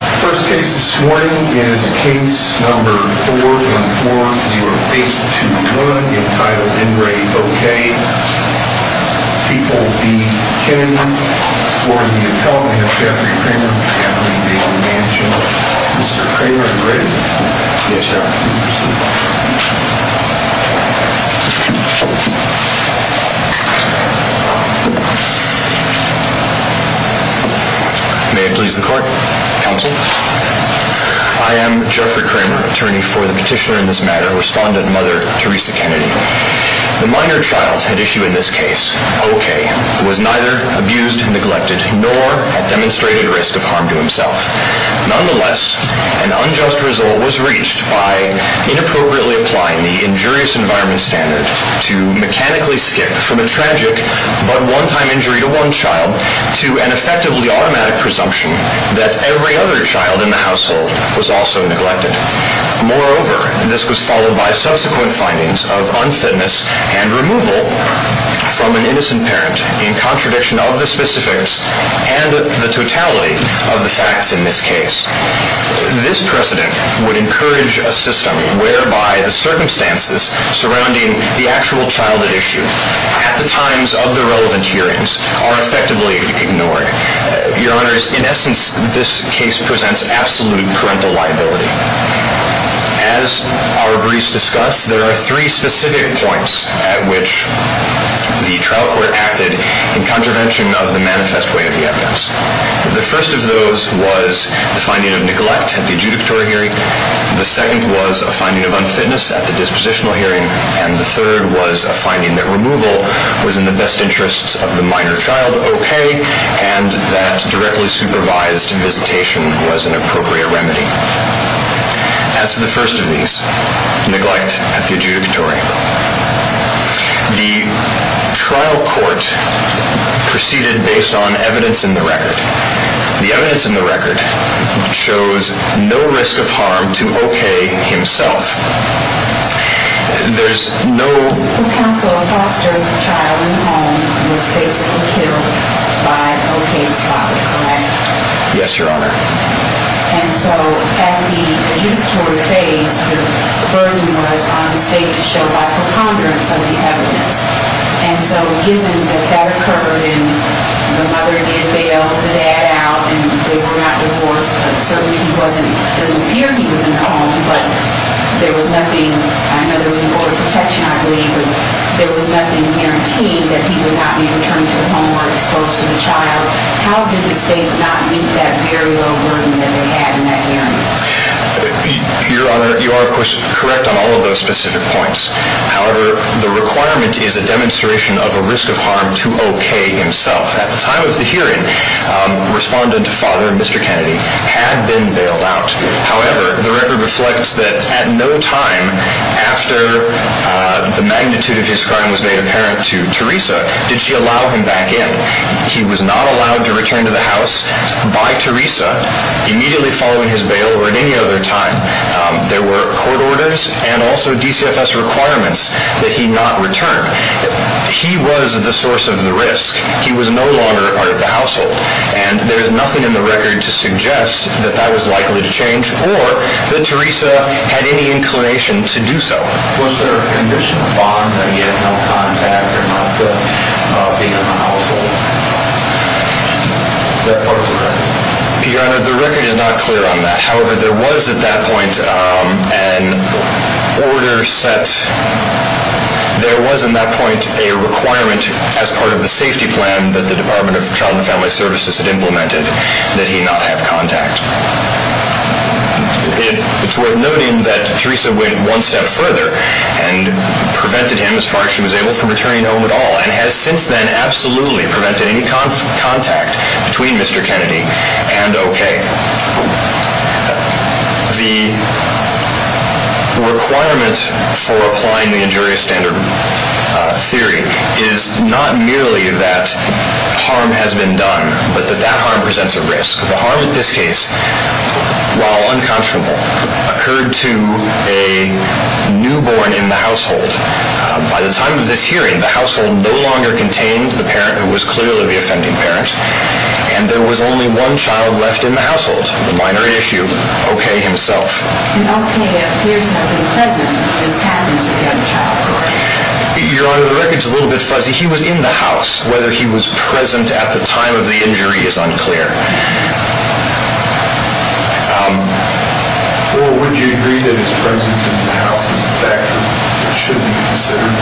The first case this morning is Case No. 414-0821, entitled In Re. O.K. People Be Kidding Me. For the appellate, we have Jeffrey Kramer of the Anthony Daly Mansion. Mr. Kramer, are you ready? Yes, Your Honor. Please proceed. May it please the Court. Counsel? I am Jeffrey Kramer, attorney for the petitioner in this matter, respondent Mother Teresa Kennedy. The minor child at issue in this case, O.K., was neither abused, neglected, nor at demonstrated risk of harm to himself. Nonetheless, an unjust result was reached by inappropriately applying the injurious environment standard to mechanically skip from a tragic but one-time injury to one child to an effectively automatic presumption that every other child in the household was also neglected. Moreover, this was followed by subsequent findings of unfitness and removal from an innocent parent in contradiction of the specifics and the totality of the facts in this case. This precedent would encourage a system whereby the circumstances surrounding the actual child at issue at the times of the relevant hearings are effectively ignored. Your Honors, in essence, this case presents absolute parental liability. As our briefs discuss, there are three specific points at which the trial court acted in contravention of the manifest way of the evidence. The first of those was the finding of neglect at the adjudicatory hearing. The second was a finding of unfitness at the dispositional hearing. And the third was a finding that removal was in the best interests of the minor child, O.K., and that directly supervised visitation was an appropriate remedy. As to the first of these, neglect at the adjudicatory. The trial court proceeded based on evidence in the record. The evidence in the record shows no risk of harm to O.K. himself. There's no... Counsel, a foster child in the home was basically killed by O.K.'s father, correct? Yes, Your Honor. And so, at the adjudicatory phase, the burden was on the state to show by preponderance of the evidence. And so, given that that occurred and the mother did bail the dad out and they were not divorced, certainly it doesn't appear he was in the home, but there was nothing... I know there was an order of protection, I believe, but there was nothing guaranteed that he would not be returned to the home or exposed to the child. How did the state not meet that very low burden that they had in that hearing? Your Honor, you are, of course, correct on all of those specific points. However, the requirement is a demonstration of a risk of harm to O.K. himself. At the time of the hearing, respondent father, Mr. Kennedy, had been bailed out. However, the record reflects that at no time after the magnitude of his crime was made apparent to Teresa, did she allow him back in. He was not allowed to return to the house by Teresa immediately following his bail or at any other time. There were court orders and also DCFS requirements that he not return. He was the source of the risk. He was no longer part of the household. And there is nothing in the record to suggest that that was likely to change or that Teresa had any inclination to do so. Was there a condition of bond that he had no contact or not being in the household? Your Honor, the record is not clear on that. However, there was at that point a requirement as part of the safety plan that the Department of Child and Family Services had implemented that he not have contact. It's worth noting that Teresa went one step further and prevented him, as far as she was able, from returning home at all and has since then absolutely prevented any contact between Mr. Kennedy and O.K. The requirement for applying the injurious standard theory is not merely that harm has been done, but that that harm presents a risk. The harm in this case, while unconscionable, occurred to a newborn in the household. By the time of this hearing, the household no longer contained the parent who was clearly the offending parent and there was only one child left in the household, the minor issue, O.K. himself. And O.K. appears to have been present when this happened to the other child, correct? Your Honor, the record is a little bit fuzzy. He was in the house. Whether he was present at the time of the injury is unclear. Well, would you agree that his presence in the house is a factor that should be considered?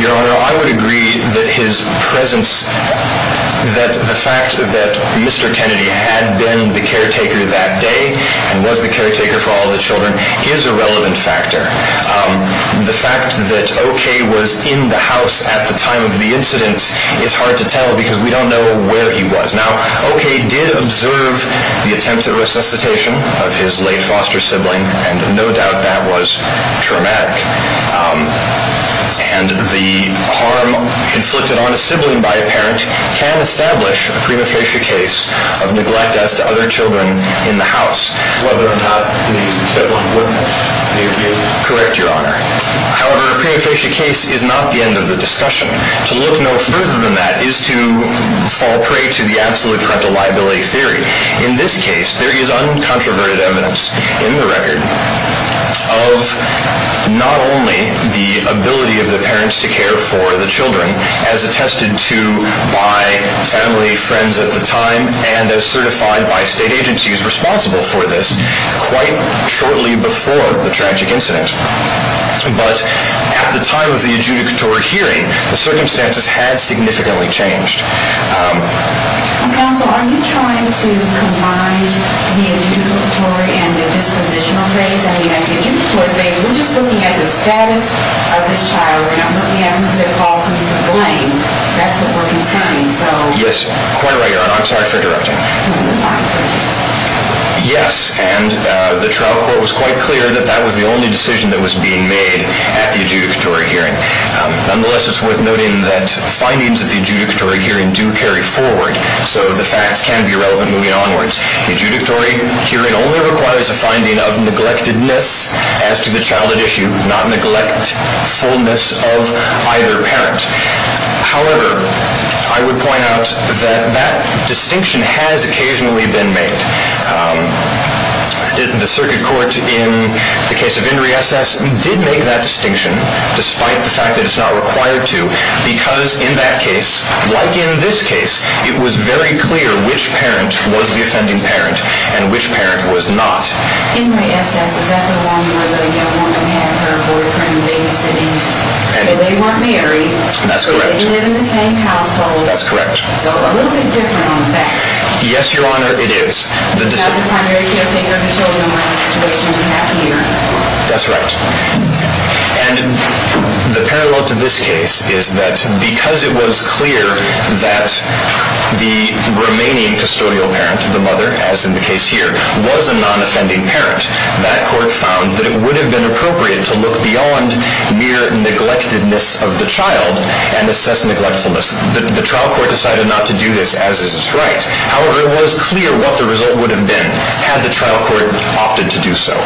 Your Honor, I would agree that his presence, that the fact that Mr. Kennedy had been the caretaker that day and was the caretaker for all the children, is a relevant factor. The fact that O.K. was in the house at the time of the incident is hard to tell because we don't know where he was. Now, O.K. did observe the attempt at resuscitation of his late foster sibling and no doubt that was traumatic. And the harm inflicted on a sibling by a parent can establish a prima facie case of neglect as to other children in the house. Whether or not the sibling witnessed the abuse? Correct, Your Honor. However, a prima facie case is not the end of the discussion. To look no further than that is to fall prey to the absolute corrective liability theory. In this case, there is uncontroverted evidence in the record of not only the ability of the parents to care for the children as attested to by family, friends at the time, and as certified by state agencies responsible for this quite shortly before the tragic incident. But at the time of the adjudicatory hearing, the circumstances had significantly changed. Counsel, are you trying to combine the adjudicatory and the dispositional phase? I mean, at the adjudicatory phase, we're just looking at the status of this child. We're not looking at him as a cause for blame. That's what we're considering. Yes, quite right, Your Honor. I'm sorry for interrupting. Yes, and the trial court was quite clear that that was the only decision that was being made at the adjudicatory hearing. Nonetheless, it's worth noting that findings at the adjudicatory hearing do carry forward, so the facts can be relevant moving onwards. The adjudicatory hearing only requires a finding of neglectedness as to the childhood issue, not neglectfulness of either parent. However, I would point out that that distinction has occasionally been made. The circuit court in the case of Inri S.S. did make that distinction, despite the fact that it's not required to, because in that case, like in this case, it was very clear which parent was the offending parent and which parent was not. Inri S.S., is that the one where the young woman had her boyfriend babysit him? So they weren't married. That's correct. They didn't live in the same household. That's correct. So a little bit different on the facts. Yes, Your Honor, it is. That's right. And the parallel to this case is that because it was clear that the remaining custodial parent, the mother, as in the case here, was a non-offending parent, that court found that it would have been appropriate to look beyond mere neglectedness of the child and assess neglectfulness. The trial court decided not to do this, as is its right. However, it was clear what the result would have been had the trial court opted to do so.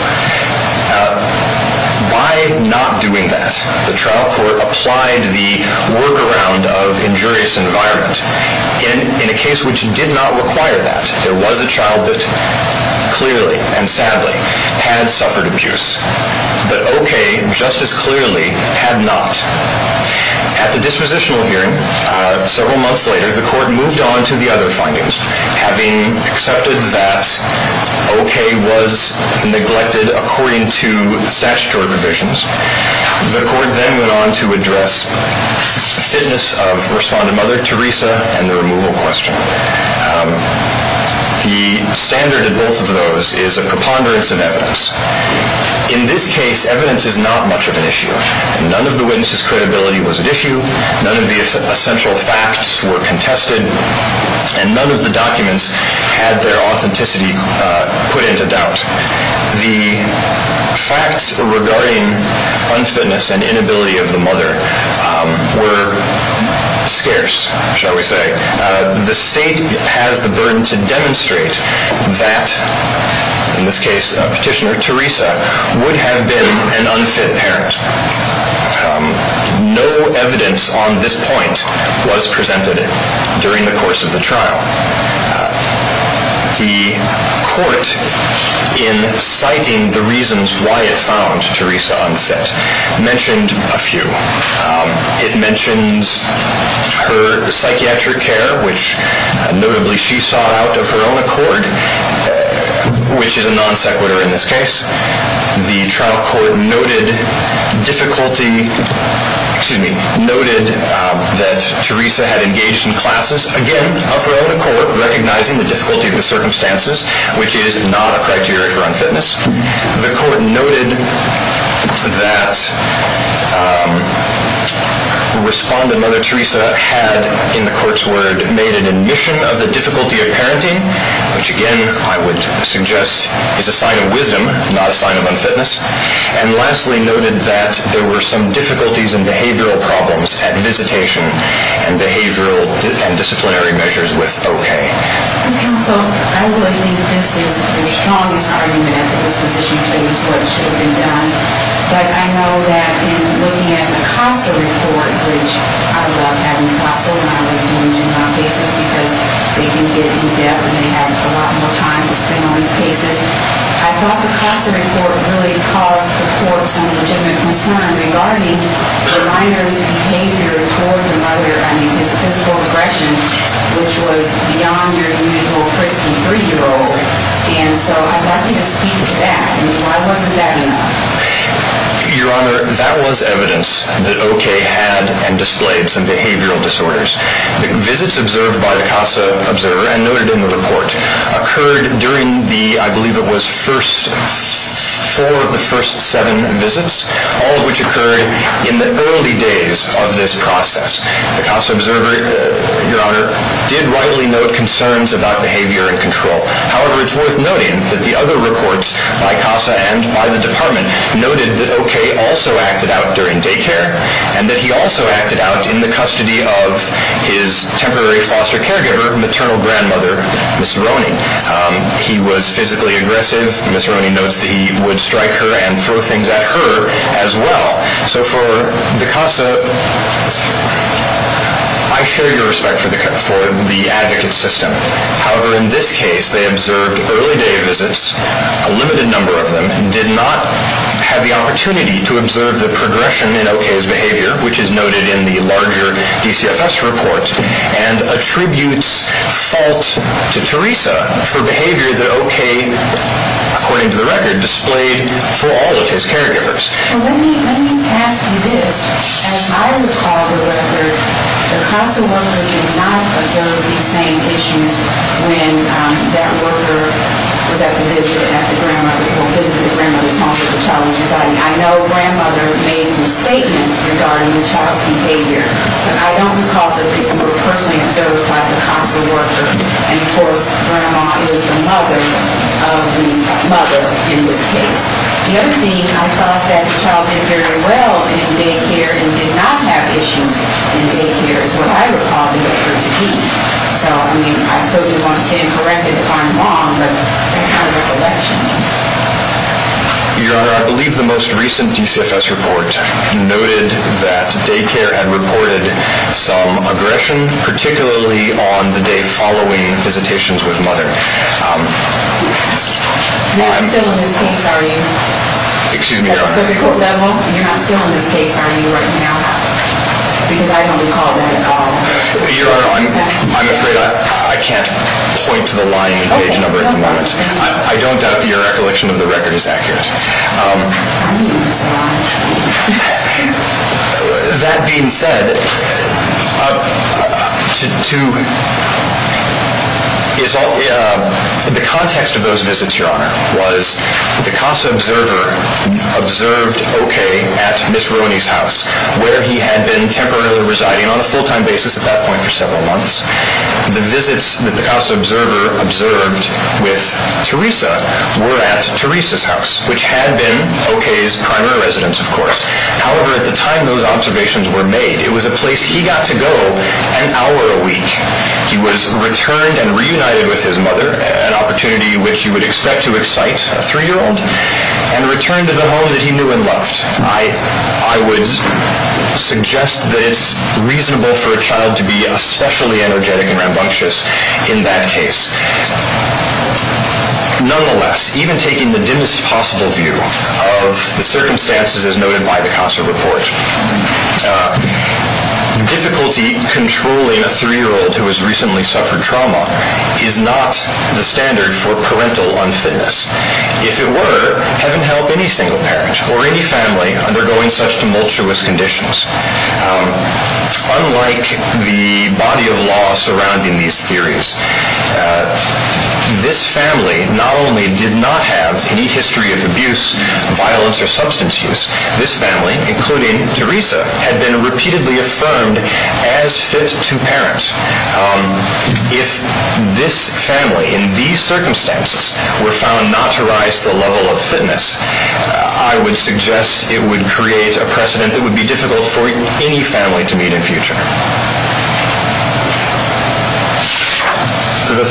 By not doing that, the trial court applied the workaround of injurious environment. In a case which did not require that, there was a child that clearly and sadly had suffered abuse, but O.K., just as clearly, had not. At the dispositional hearing, several months later, the court moved on to the other findings. Having accepted that O.K. was neglected according to statutory provisions, the court then went on to address fitness of respondent mother, Teresa, and the removal question. The standard in both of those is a preponderance of evidence. In this case, evidence is not much of an issue. None of the witnesses' credibility was at issue. None of the essential facts were contested, and none of the documents had their authenticity put into doubt. The facts regarding unfitness and inability of the mother were scarce, shall we say. The state has the burden to demonstrate that, in this case, petitioner Teresa would have been an unfit parent. No evidence on this point was presented during the course of the trial. The court, in citing the reasons why it found Teresa unfit, mentioned a few. It mentions her psychiatric care, which, notably, she sought out of her own accord, which is a non-sequitur in this case. The trial court noted difficulty, excuse me, noted that Teresa had engaged in classes, again, of her own accord, recognizing the difficulty of the circumstances, which is not a criteria for unfitness. The court noted that respondent Mother Teresa had, in the court's word, made an admission of the difficulty of parenting, which, again, I would suggest is a sign of wisdom, not a sign of unfitness. And lastly, noted that there were some difficulties and behavioral problems at visitation and behavioral and disciplinary measures with O.K. Counsel, I really think this is the strongest argument at this position to use what should have been done. But I know that in looking at the CASA report, which I loved having CASA when I was doing juvenile cases because they didn't get in depth and they had a lot more time to spend on these cases. I thought the CASA report really caused the court some legitimate concern regarding the minor's behavior toward the mother. I mean, his physical aggression, which was beyond your usual frisky three-year-old. And so I'd like you to speak to that. I mean, why wasn't that enough? Your Honor, that was evidence that O.K. had and displayed some behavioral disorders. The visits observed by the CASA observer and noted in the report occurred during the, I believe it was, first four of the first seven visits, all of which occurred in the early days of this process. The CASA observer, Your Honor, did widely note concerns about behavior and control. However, it's worth noting that the other reports by CASA and by the department noted that O.K. also acted out during daycare and that he also acted out in the custody of his temporary foster caregiver, maternal grandmother, Ms. Roney. He was physically aggressive. Ms. Roney notes that he would strike her and throw things at her as well. So for the CASA, I show you respect for the advocate system. However, in this case, they observed early day visits, a limited number of them, and did not have the opportunity to observe the progression in O.K.'s behavior, which is noted in the larger DCFS report and attributes fault to Teresa for behavior that O.K., according to the record, displayed for all of his caregivers. Well, let me ask you this. As I recall the record, the CASA worker did not observe these same issues when that worker was at the visit at the grandmother's home. I know grandmother made some statements regarding the child's behavior, but I don't recall that they were personally observed by the CASA worker. And of course, grandma is the mother of the mother in this case. The other thing, I thought that the child did very well in daycare and did not have issues in daycare, is what I recall they occurred to be. So, I mean, I certainly don't want to stand corrected if I'm wrong, but that's my recollection. Your Honor, I believe the most recent DCFS report noted that daycare had reported some aggression, particularly on the day following visitations with mother. You're not still in this case, are you? Excuse me, Your Honor? At the circuit court level, you're not still in this case, are you, right now? Because I don't recall that at all. Your Honor, I'm afraid I can't point to the line page number at the moment. I don't doubt that your recollection of the record is accurate. That being said, the context of those visits, Your Honor, was the CASA observer observed okay at Ms. Rooney's house, where he had been temporarily residing on a full-time basis at that point for several months. The visits that the CASA observer observed with Teresa were at Teresa's house, which had been okay's primary residence, of course. However, at the time those observations were made, it was a place he got to go an hour a week. He was returned and reunited with his mother, an opportunity which you would expect to excite a three-year-old, and returned to the home that he knew and loved. I would suggest that it's reasonable for a child to be especially energetic and rambunctious in that case. Nonetheless, even taking the dimmest possible view of the circumstances as noted by the CASA report, difficulty controlling a three-year-old who has recently suffered trauma is not the standard for parental unfitness. If it were, heaven help any single parent or any family undergoing such tumultuous conditions. Unlike the body of law surrounding these theories, this family not only did not have any history of abuse, violence, or substance use, this family, including Teresa, had been repeatedly affirmed as fit to parent. If this family, in these circumstances, were found not to rise to the level of fitness, I would suggest it would create a precedent that would be difficult for any family to meet in future. The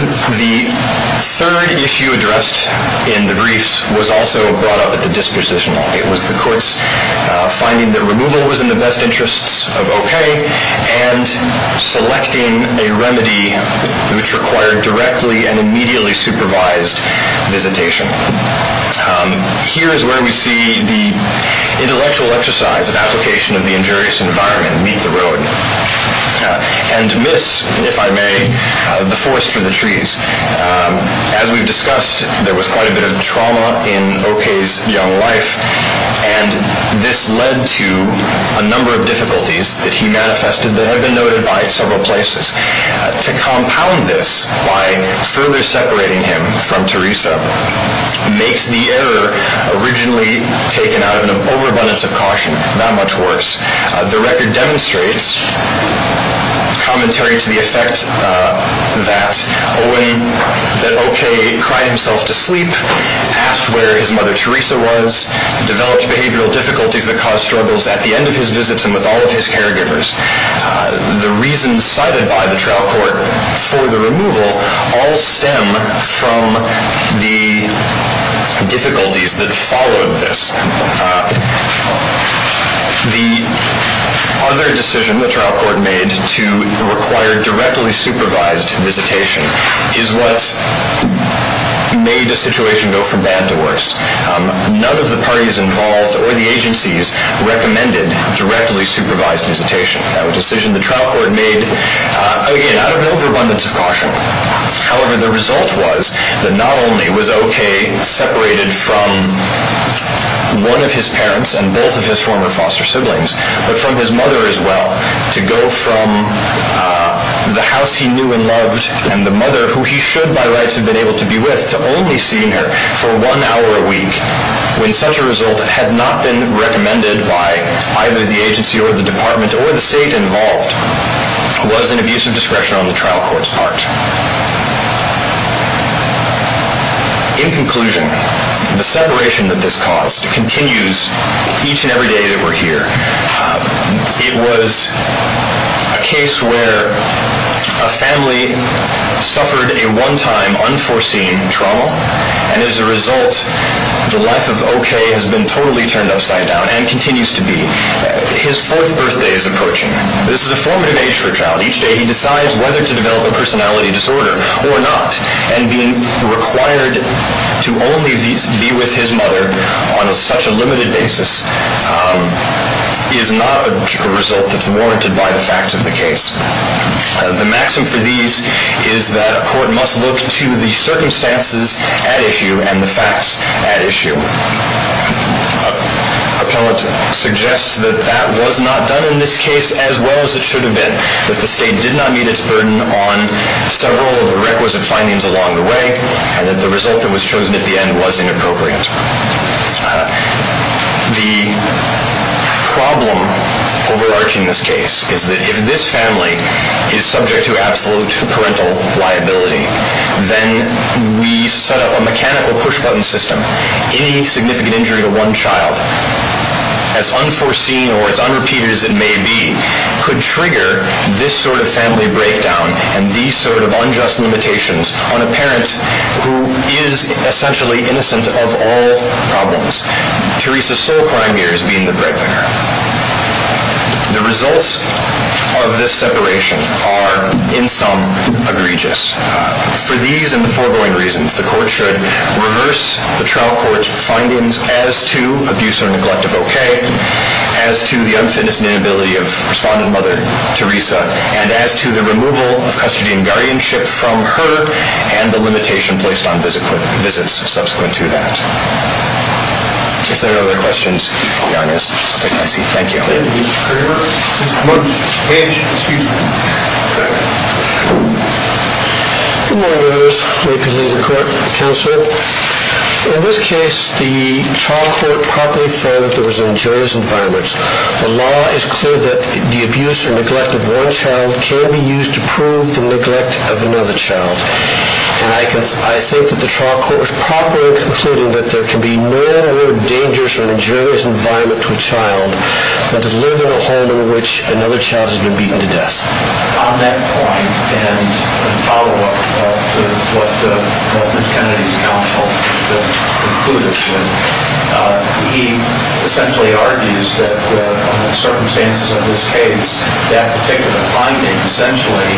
third issue addressed in the briefs was also brought up at the dispositional. It was the court's finding that removal was in the best interests of O.K. and selecting a remedy which required directly and immediately supervised visitation. Here is where we see the intellectual exercise of application of the injurious environment meet the road and miss, if I may, the forest for the trees. As we've discussed, there was quite a bit of trauma in O.K.'s young life, and this led to a number of difficulties that he manifested that have been noted by several places. To compound this by further separating him from Teresa makes the error originally taken out of an overabundance of caution not much worse. The record demonstrates commentary to the effect that O.K. cried himself to sleep, asked where his mother Teresa was, developed behavioral difficulties that caused struggles at the end of his visits and with all of his caregivers. The reasons cited by the trial court for the removal all stem from the difficulties that followed this. The other decision the trial court made to require directly supervised visitation is what made the situation go from bad to worse. None of the parties involved or the agencies recommended directly supervised visitation. That was a decision the trial court made, again, out of an overabundance of caution. However, the result was that not only was O.K. separated from one of his parents and both of his former foster siblings, but from his mother as well, to go from the house he knew and loved and the mother who he should by rights have been able to be with to only seeing her for one hour a week when such a result had not been recommended by either the agency or the department or the state involved was an abuse of discretion on the trial court's part. In conclusion, the separation that this caused continues each and every day that we're here. It was a case where a family suffered a one-time unforeseen trauma, and as a result, the life of O.K. has been totally turned upside down and continues to be. His fourth birthday is approaching. This is a formative age for a child. Each day he decides whether to develop a personality disorder or not, and being required to only be with his mother on such a limited basis is not a result that's warranted by the facts of the case. The maxim for these is that a court must look to the circumstances at issue and the facts at issue. Appellate suggests that that was not done in this case as well as it should have been, that the state did not meet its burden on several of the requisite findings along the way, and that the result that was chosen at the end was inappropriate. The problem overarching this case is that if this family is subject to absolute parental liability, then we set up a mechanical push-button system. Any significant injury to one child, as unforeseen or as unrepeated as it may be, could trigger this sort of family breakdown and these sort of unjust limitations on a parent who is essentially innocent of all problems, Teresa's sole crime here is being the breadwinner. The results of this separation are, in sum, egregious. For these and the foregoing reasons, the court should reverse the trial court's findings as to abuse or neglect of O.K., as to the unfitness and inability of Respondent Mother Teresa, and as to the removal of custody and guardianship from her and the limitation placed on visits subsequent to that. If there are no other questions, I'll take my seat. Thank you. Good morning, members. May it please the court, counsel. In this case, the trial court properly found that there was an injurious environment. The law is clear that the abuse or neglect of one child can be used to prove the neglect of another child. And I think that the trial court was properly concluding that there can be no more dangerous or injurious environment to a child than to live in a home in which another child has been beaten to death. On that point, and in follow-up to what Mr. Kennedy's counsel concluded, he essentially argues that, on the circumstances of this case, that particular finding essentially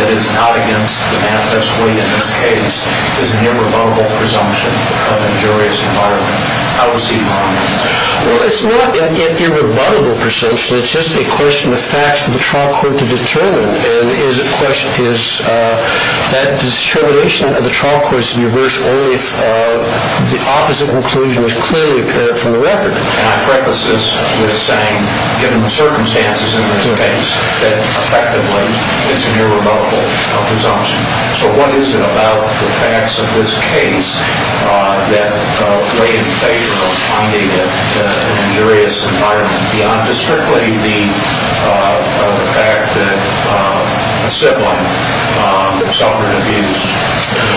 that is not against the manifest way in this case is an irrebuttable presumption of injurious environment. How does he find that? Well, it's not an irrebuttable presumption. It's just a question of facts for the trial court to determine. And the question is that determination of the trial court should be reversed only if the opposite conclusion is clearly apparent from the record. And I preface this with saying, given the circumstances in this case, that effectively it's an irrebuttable presumption. So what is it about the facts of this case that weigh in favor of finding an injurious environment beyond just strictly the fact that a sibling suffered abuse?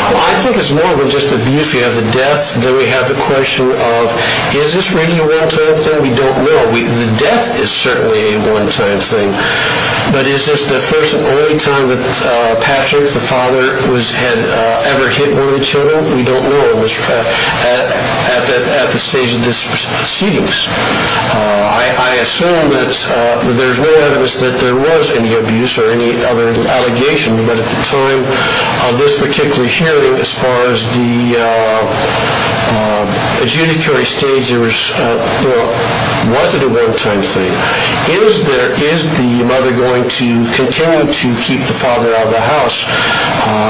Well, I think it's more than just abuse. If you have the death, then we have the question of, is this really a one-time thing? We don't know. The death is certainly a one-time thing. But is this the first and only time that Patrick, the father, had ever hit one of the children? We don't know at this stage of proceedings. I assume that there's no evidence that there was any abuse or any other allegation. But at the time of this particular hearing, as far as the adjudicatory stage, was it a one-time thing? Is the mother going to continue to keep the father out of the house?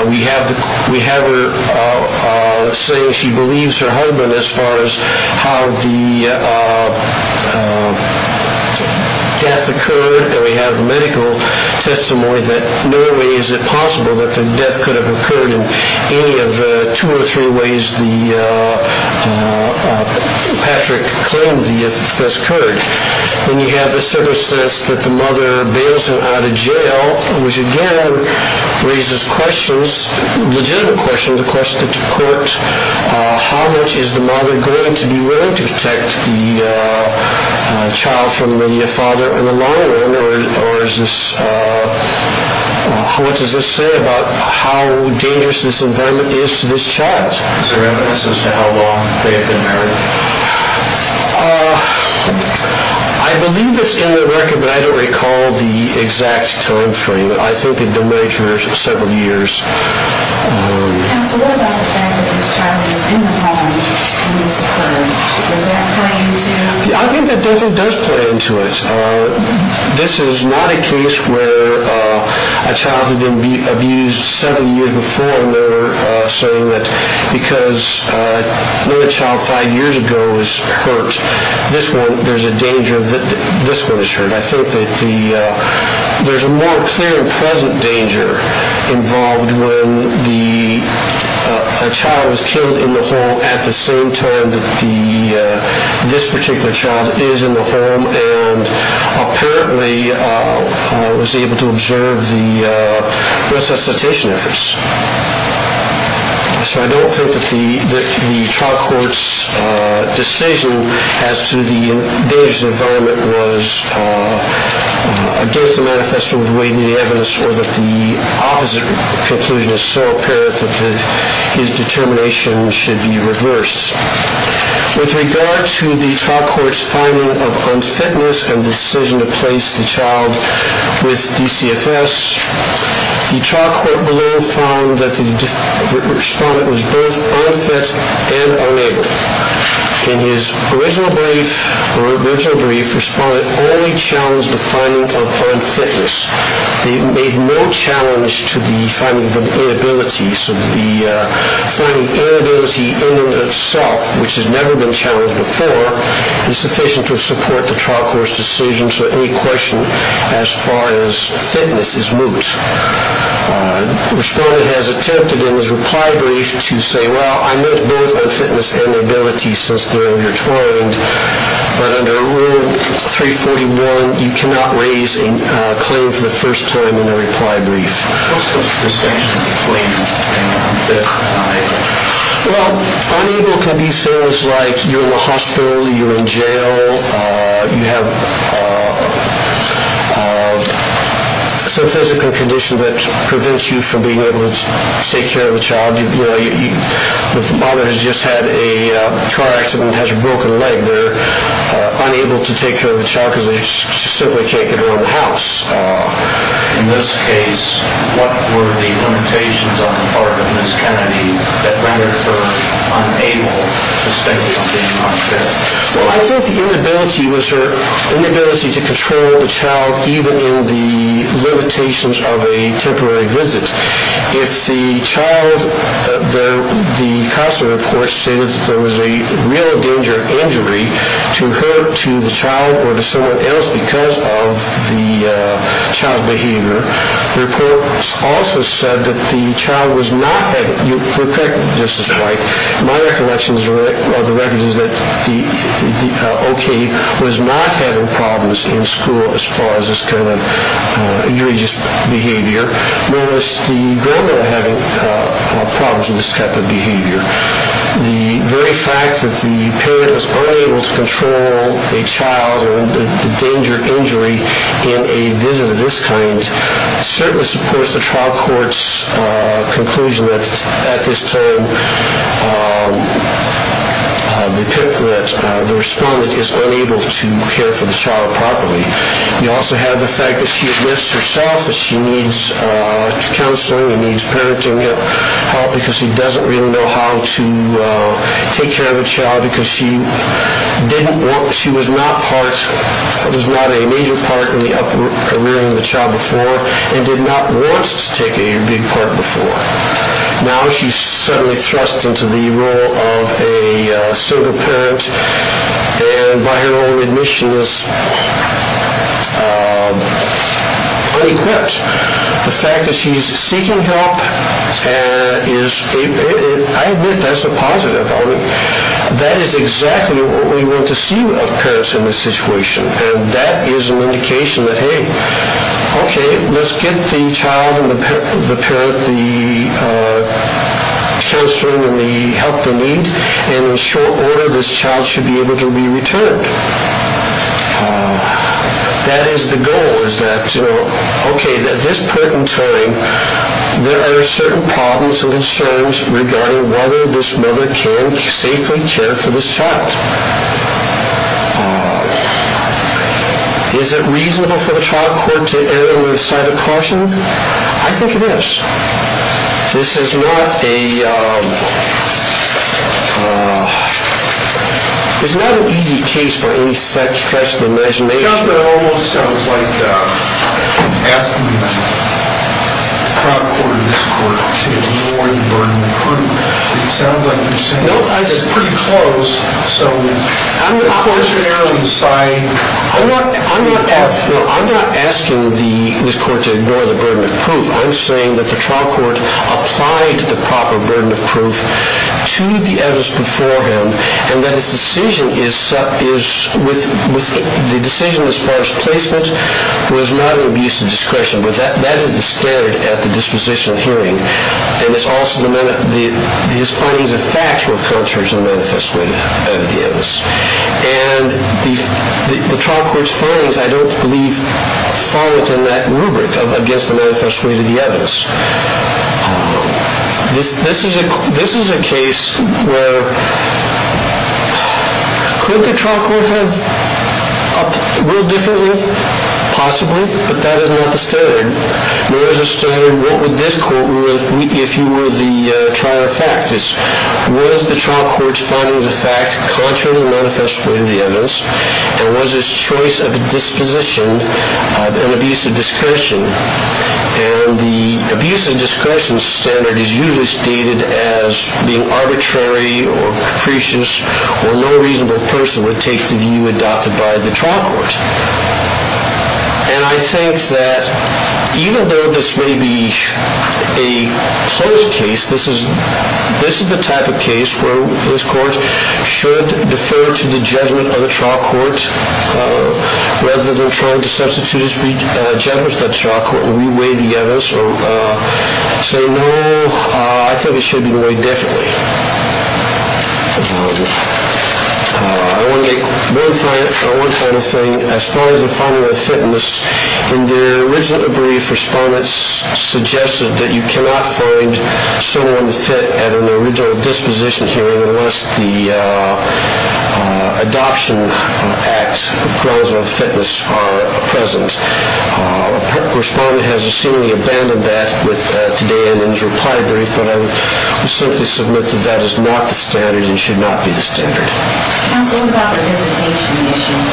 We have her saying she believes her husband as far as how the death occurred. We have the medical testimony that no way is it possible that the death could have occurred in any of the two or three ways Patrick claimed the death occurred. Then you have the circumstance that the mother bails him out of jail, which again raises questions, legitimate questions, the question to court, how much is the mother going to be willing to protect the child from the father in the long run, or how much does this say about how dangerous this environment is to this child? Is there evidence as to how long they have been married? I believe it's in the record, but I don't recall the exact time frame. I think they've been married for several years. What about the fact that this child is in the home when this occurred? Does that play into it? I think that definitely does play into it. This is not a case where a child who didn't be abused seven years before a murder, saying that because a child five years ago was hurt, this one is hurt. I think that there's a more clear and present danger involved when a child is killed in the home at the same time that this particular child is in the home and apparently was able to observe the resuscitation efforts. So I don't think that the trial court's decision as to the danger of the environment was against the manifesto of the weighting of the evidence or that the opposite conclusion is so apparent that his determination should be reversed. With regard to the trial court's finding of unfitness and decision to place the child with DCFS, the trial court below found that the respondent was both unfit and unable. In his original brief, the respondent only challenged the finding of unfitness. They made no challenge to the finding of an inability. So the finding of inability in and of itself, which has never been challenged before, is sufficient to support the trial court's decision. So any question as far as fitness is moot. The respondent has attempted in his reply brief to say, well, I meant both unfitness and inability since they're intertwined, but under Rule 341, you cannot raise a claim for the first time in a reply brief. What's the distinction between unable and unable? Well, unable can be things like you're in the hospital, you're in jail, you have some physical condition that prevents you from being able to take care of the child. The mother has just had a car accident and has a broken leg. They're unable to take care of the child because they simply can't get her out of the house. In this case, what were the limitations on the part of Ms. Kennedy that rendered her unable to state that she was being unfair? Well, I think the inability was her inability to control the child, even in the limitations of a temporary visit. If the child, the counselor, of course, stated that there was a real danger of injury to her, to the child, or to someone else because of the child's behavior, the report also said that the child was not having, you're correct, Justice White, my recollection of the record is that the OK was not having problems in school as far as this kind of egregious behavior, nor was the grandma having problems with this type of behavior. The very fact that the parent is unable to control a child or the danger of injury in a visit of this kind certainly supports the trial court's conclusion that at this time the respondent is unable to care for the child properly. You also have the fact that she admits herself that she needs counseling, she needs parenting help because she doesn't really know how to take care of a child because she was not a major part in the upbringing of the child before and did not want to take a big part before. Now she's suddenly thrust into the role of a single parent and by her own admission is unequipped. The fact that she's seeking help, I admit that's a positive. That is exactly what we want to see of parents in this situation and that is an indication that hey, OK, let's get the child and the parent the counseling and the help they need and in short order this child should be able to be returned. That is the goal is that OK, at this point in time there are certain problems and concerns regarding whether this mother can safely care for this child. Is it reasonable for the trial court to err on the side of caution? I think it is. This is not an easy case for any stretch of the imagination. It almost sounds like asking the trial court or this court to ignore the burden of proof. It sounds like you're saying this is pretty close. I'm not asking this court to ignore the burden of proof. I'm saying that the trial court applied the proper burden of proof to the evidence before him and that the decision as far as placement was not an abuse of discretion. That is the standard at the disposition hearing. His findings and facts were contrary to the manifest way of the evidence. The trial court's findings I don't believe fall within that rubric of against the manifest way of the evidence. This is a case where could the trial court have acted a little differently? Possibly, but that is not the standard. Nor is the standard what would this court, if you were the trial of facts, was the trial court's findings and facts contrary to the manifest way of the evidence and was his choice of disposition an abuse of discretion? The abuse of discretion standard is usually stated as being arbitrary or capricious or no reasonable person would take the view adopted by the trial court. And I think that even though this may be a close case, this is the type of case where this court should defer to the judgment of the trial court rather than trying to substitute its judgment to the trial court or re-weigh the evidence or say no, I think it should be weighed differently. I want to make one final thing. As far as the finding of fitness, in the original brief, respondents suggested that you cannot find someone fit at an original disposition hearing unless the adoption act grounds of fitness are present. A correspondent has seemingly abandoned that today in his reply brief, but I would simply submit that that is not the standard and should not be the standard. Counsel, what about the visitation issue?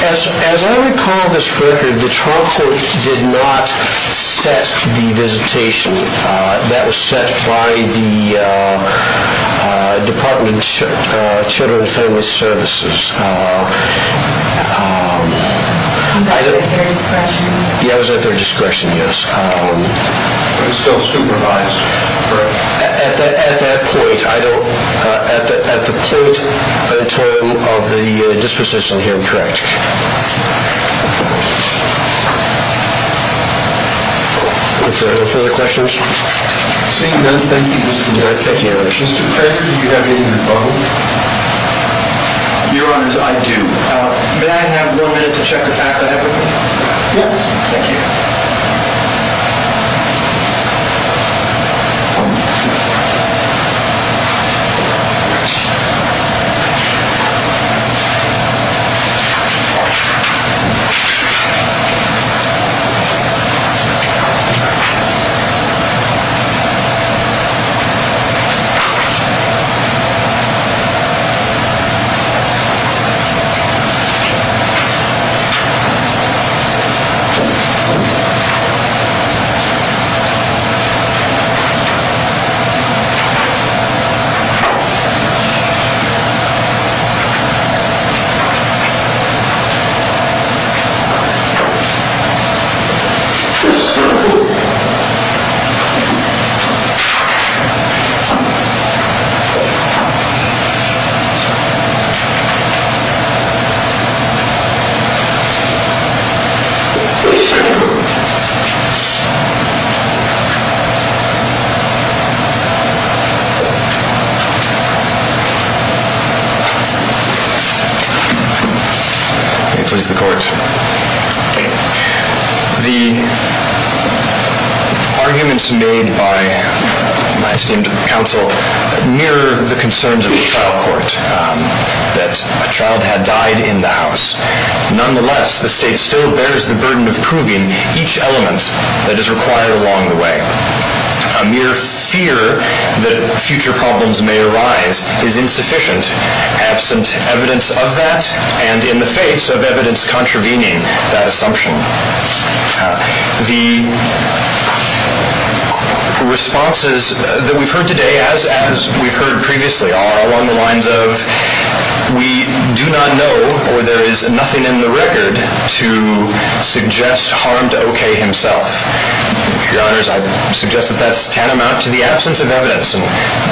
As I recall this record, the trial court did not set the visitation. That was set by the Department of Children and Family Services. Was that at their discretion? Yes, it was at their discretion, yes. But it's still supervised? At that point, I don't, at the point of the disposition hearing, correct. If there are no further questions. Seeing none, thank you, Mr. Kramer. Thank you, Your Honor. Mr. Kramer, do you have anything to follow? Your Honor, I do. May I have one minute to check the fact I have with me? Yes. Thank you. Thank you. May it please the Court. The arguments made by my esteemed counsel mirror the concerns of the trial court, that a child had died in the house. Nonetheless, the State still bears the burden of proving each element that is required along the way. A mere fear that future problems may arise is insufficient, absent evidence of that, and in the face of evidence contravening that assumption. The responses that we've heard today, as we've heard previously, are along the lines of, we do not know, or there is nothing in the record to suggest harm to O.K. himself. Your Honors, I suggest that that's tantamount to the absence of evidence, and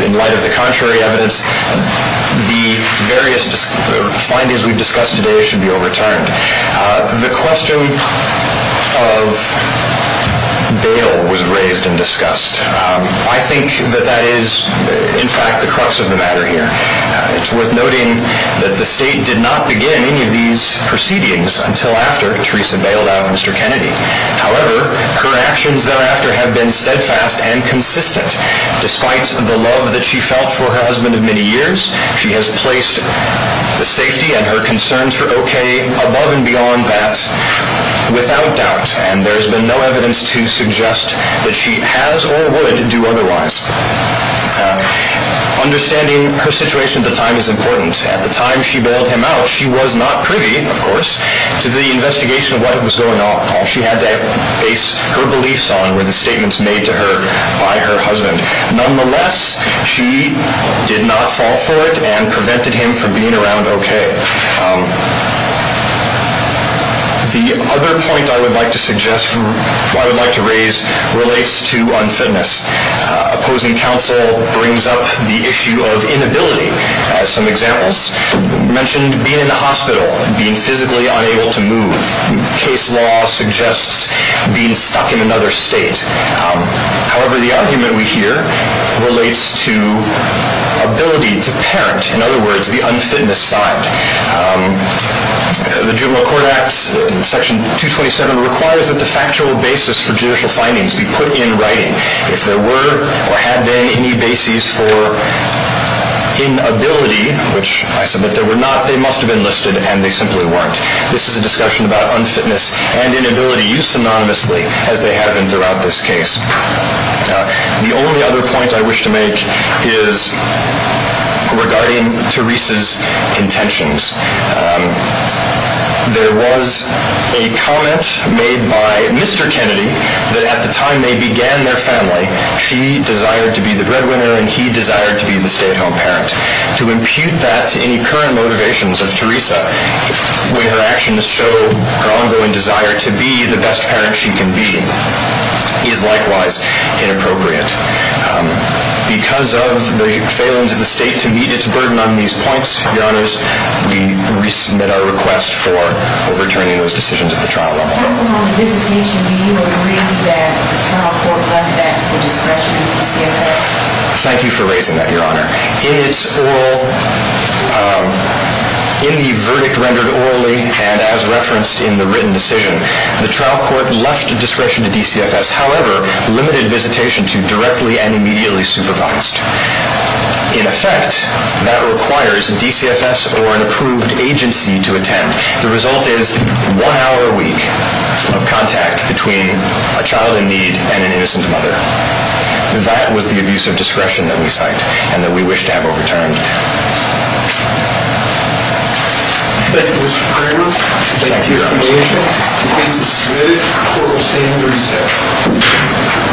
in light of the contrary evidence, the various findings we've discussed today should be overturned. The question of bail was raised and discussed. I think that that is, in fact, the crux of the matter here. It's worth noting that the State did not begin any of these proceedings until after Theresa bailed out Mr. Kennedy. However, her actions thereafter have been steadfast and consistent. Despite the love that she felt for her husband of many years, she has placed the safety and her concerns for O.K. above and beyond that without doubt, and there has been no evidence to suggest that she has or would do otherwise. Understanding her situation at the time is important. At the time she bailed him out, she was not privy, of course, to the investigation of what was going on. All she had to base her beliefs on were the statements made to her by her husband. Nonetheless, she did not fall for it and prevented him from being around O.K. The other point I would like to raise relates to unfitness. Opposing counsel brings up the issue of inability. Some examples mentioned being in the hospital, being physically unable to move. Case law suggests being stuck in another state. However, the argument we hear relates to ability to parent, in other words, the unfitness side. The Juvenile Court Act, Section 227, requires that the factual basis for judicial findings be put in writing. If there were or had been any basis for inability, which I submit there were not, they must have been listed and they simply weren't. This is a discussion about unfitness and inability used synonymously, as they have been throughout this case. The only other point I wish to make is regarding Teresa's intentions. There was a comment made by Mr. Kennedy that at the time they began their family, she desired to be the breadwinner and he desired to be the stay-at-home parent. To impute that to any current motivations of Teresa, when her actions show her ongoing desire to be the best parent she can be, is likewise inappropriate. Because of the failings of the state to meet its burden on these points, Your Honors, we resubmit our request for overturning those decisions at the trial level. Thank you for raising that, Your Honor. In the verdict rendered orally and as referenced in the written decision, the trial court left discretion to DCFS, however, limited visitation to directly and immediately supervised. In effect, that requires DCFS or an approved agency to attend. The result is one hour a week of contact between a child in need and an innocent mother. That was the abuse of discretion that we cite and that we wish to have overturned. Thank you, Mr. Kramer. Thank you, Your Honors. The case is submitted. The court will stand and reset.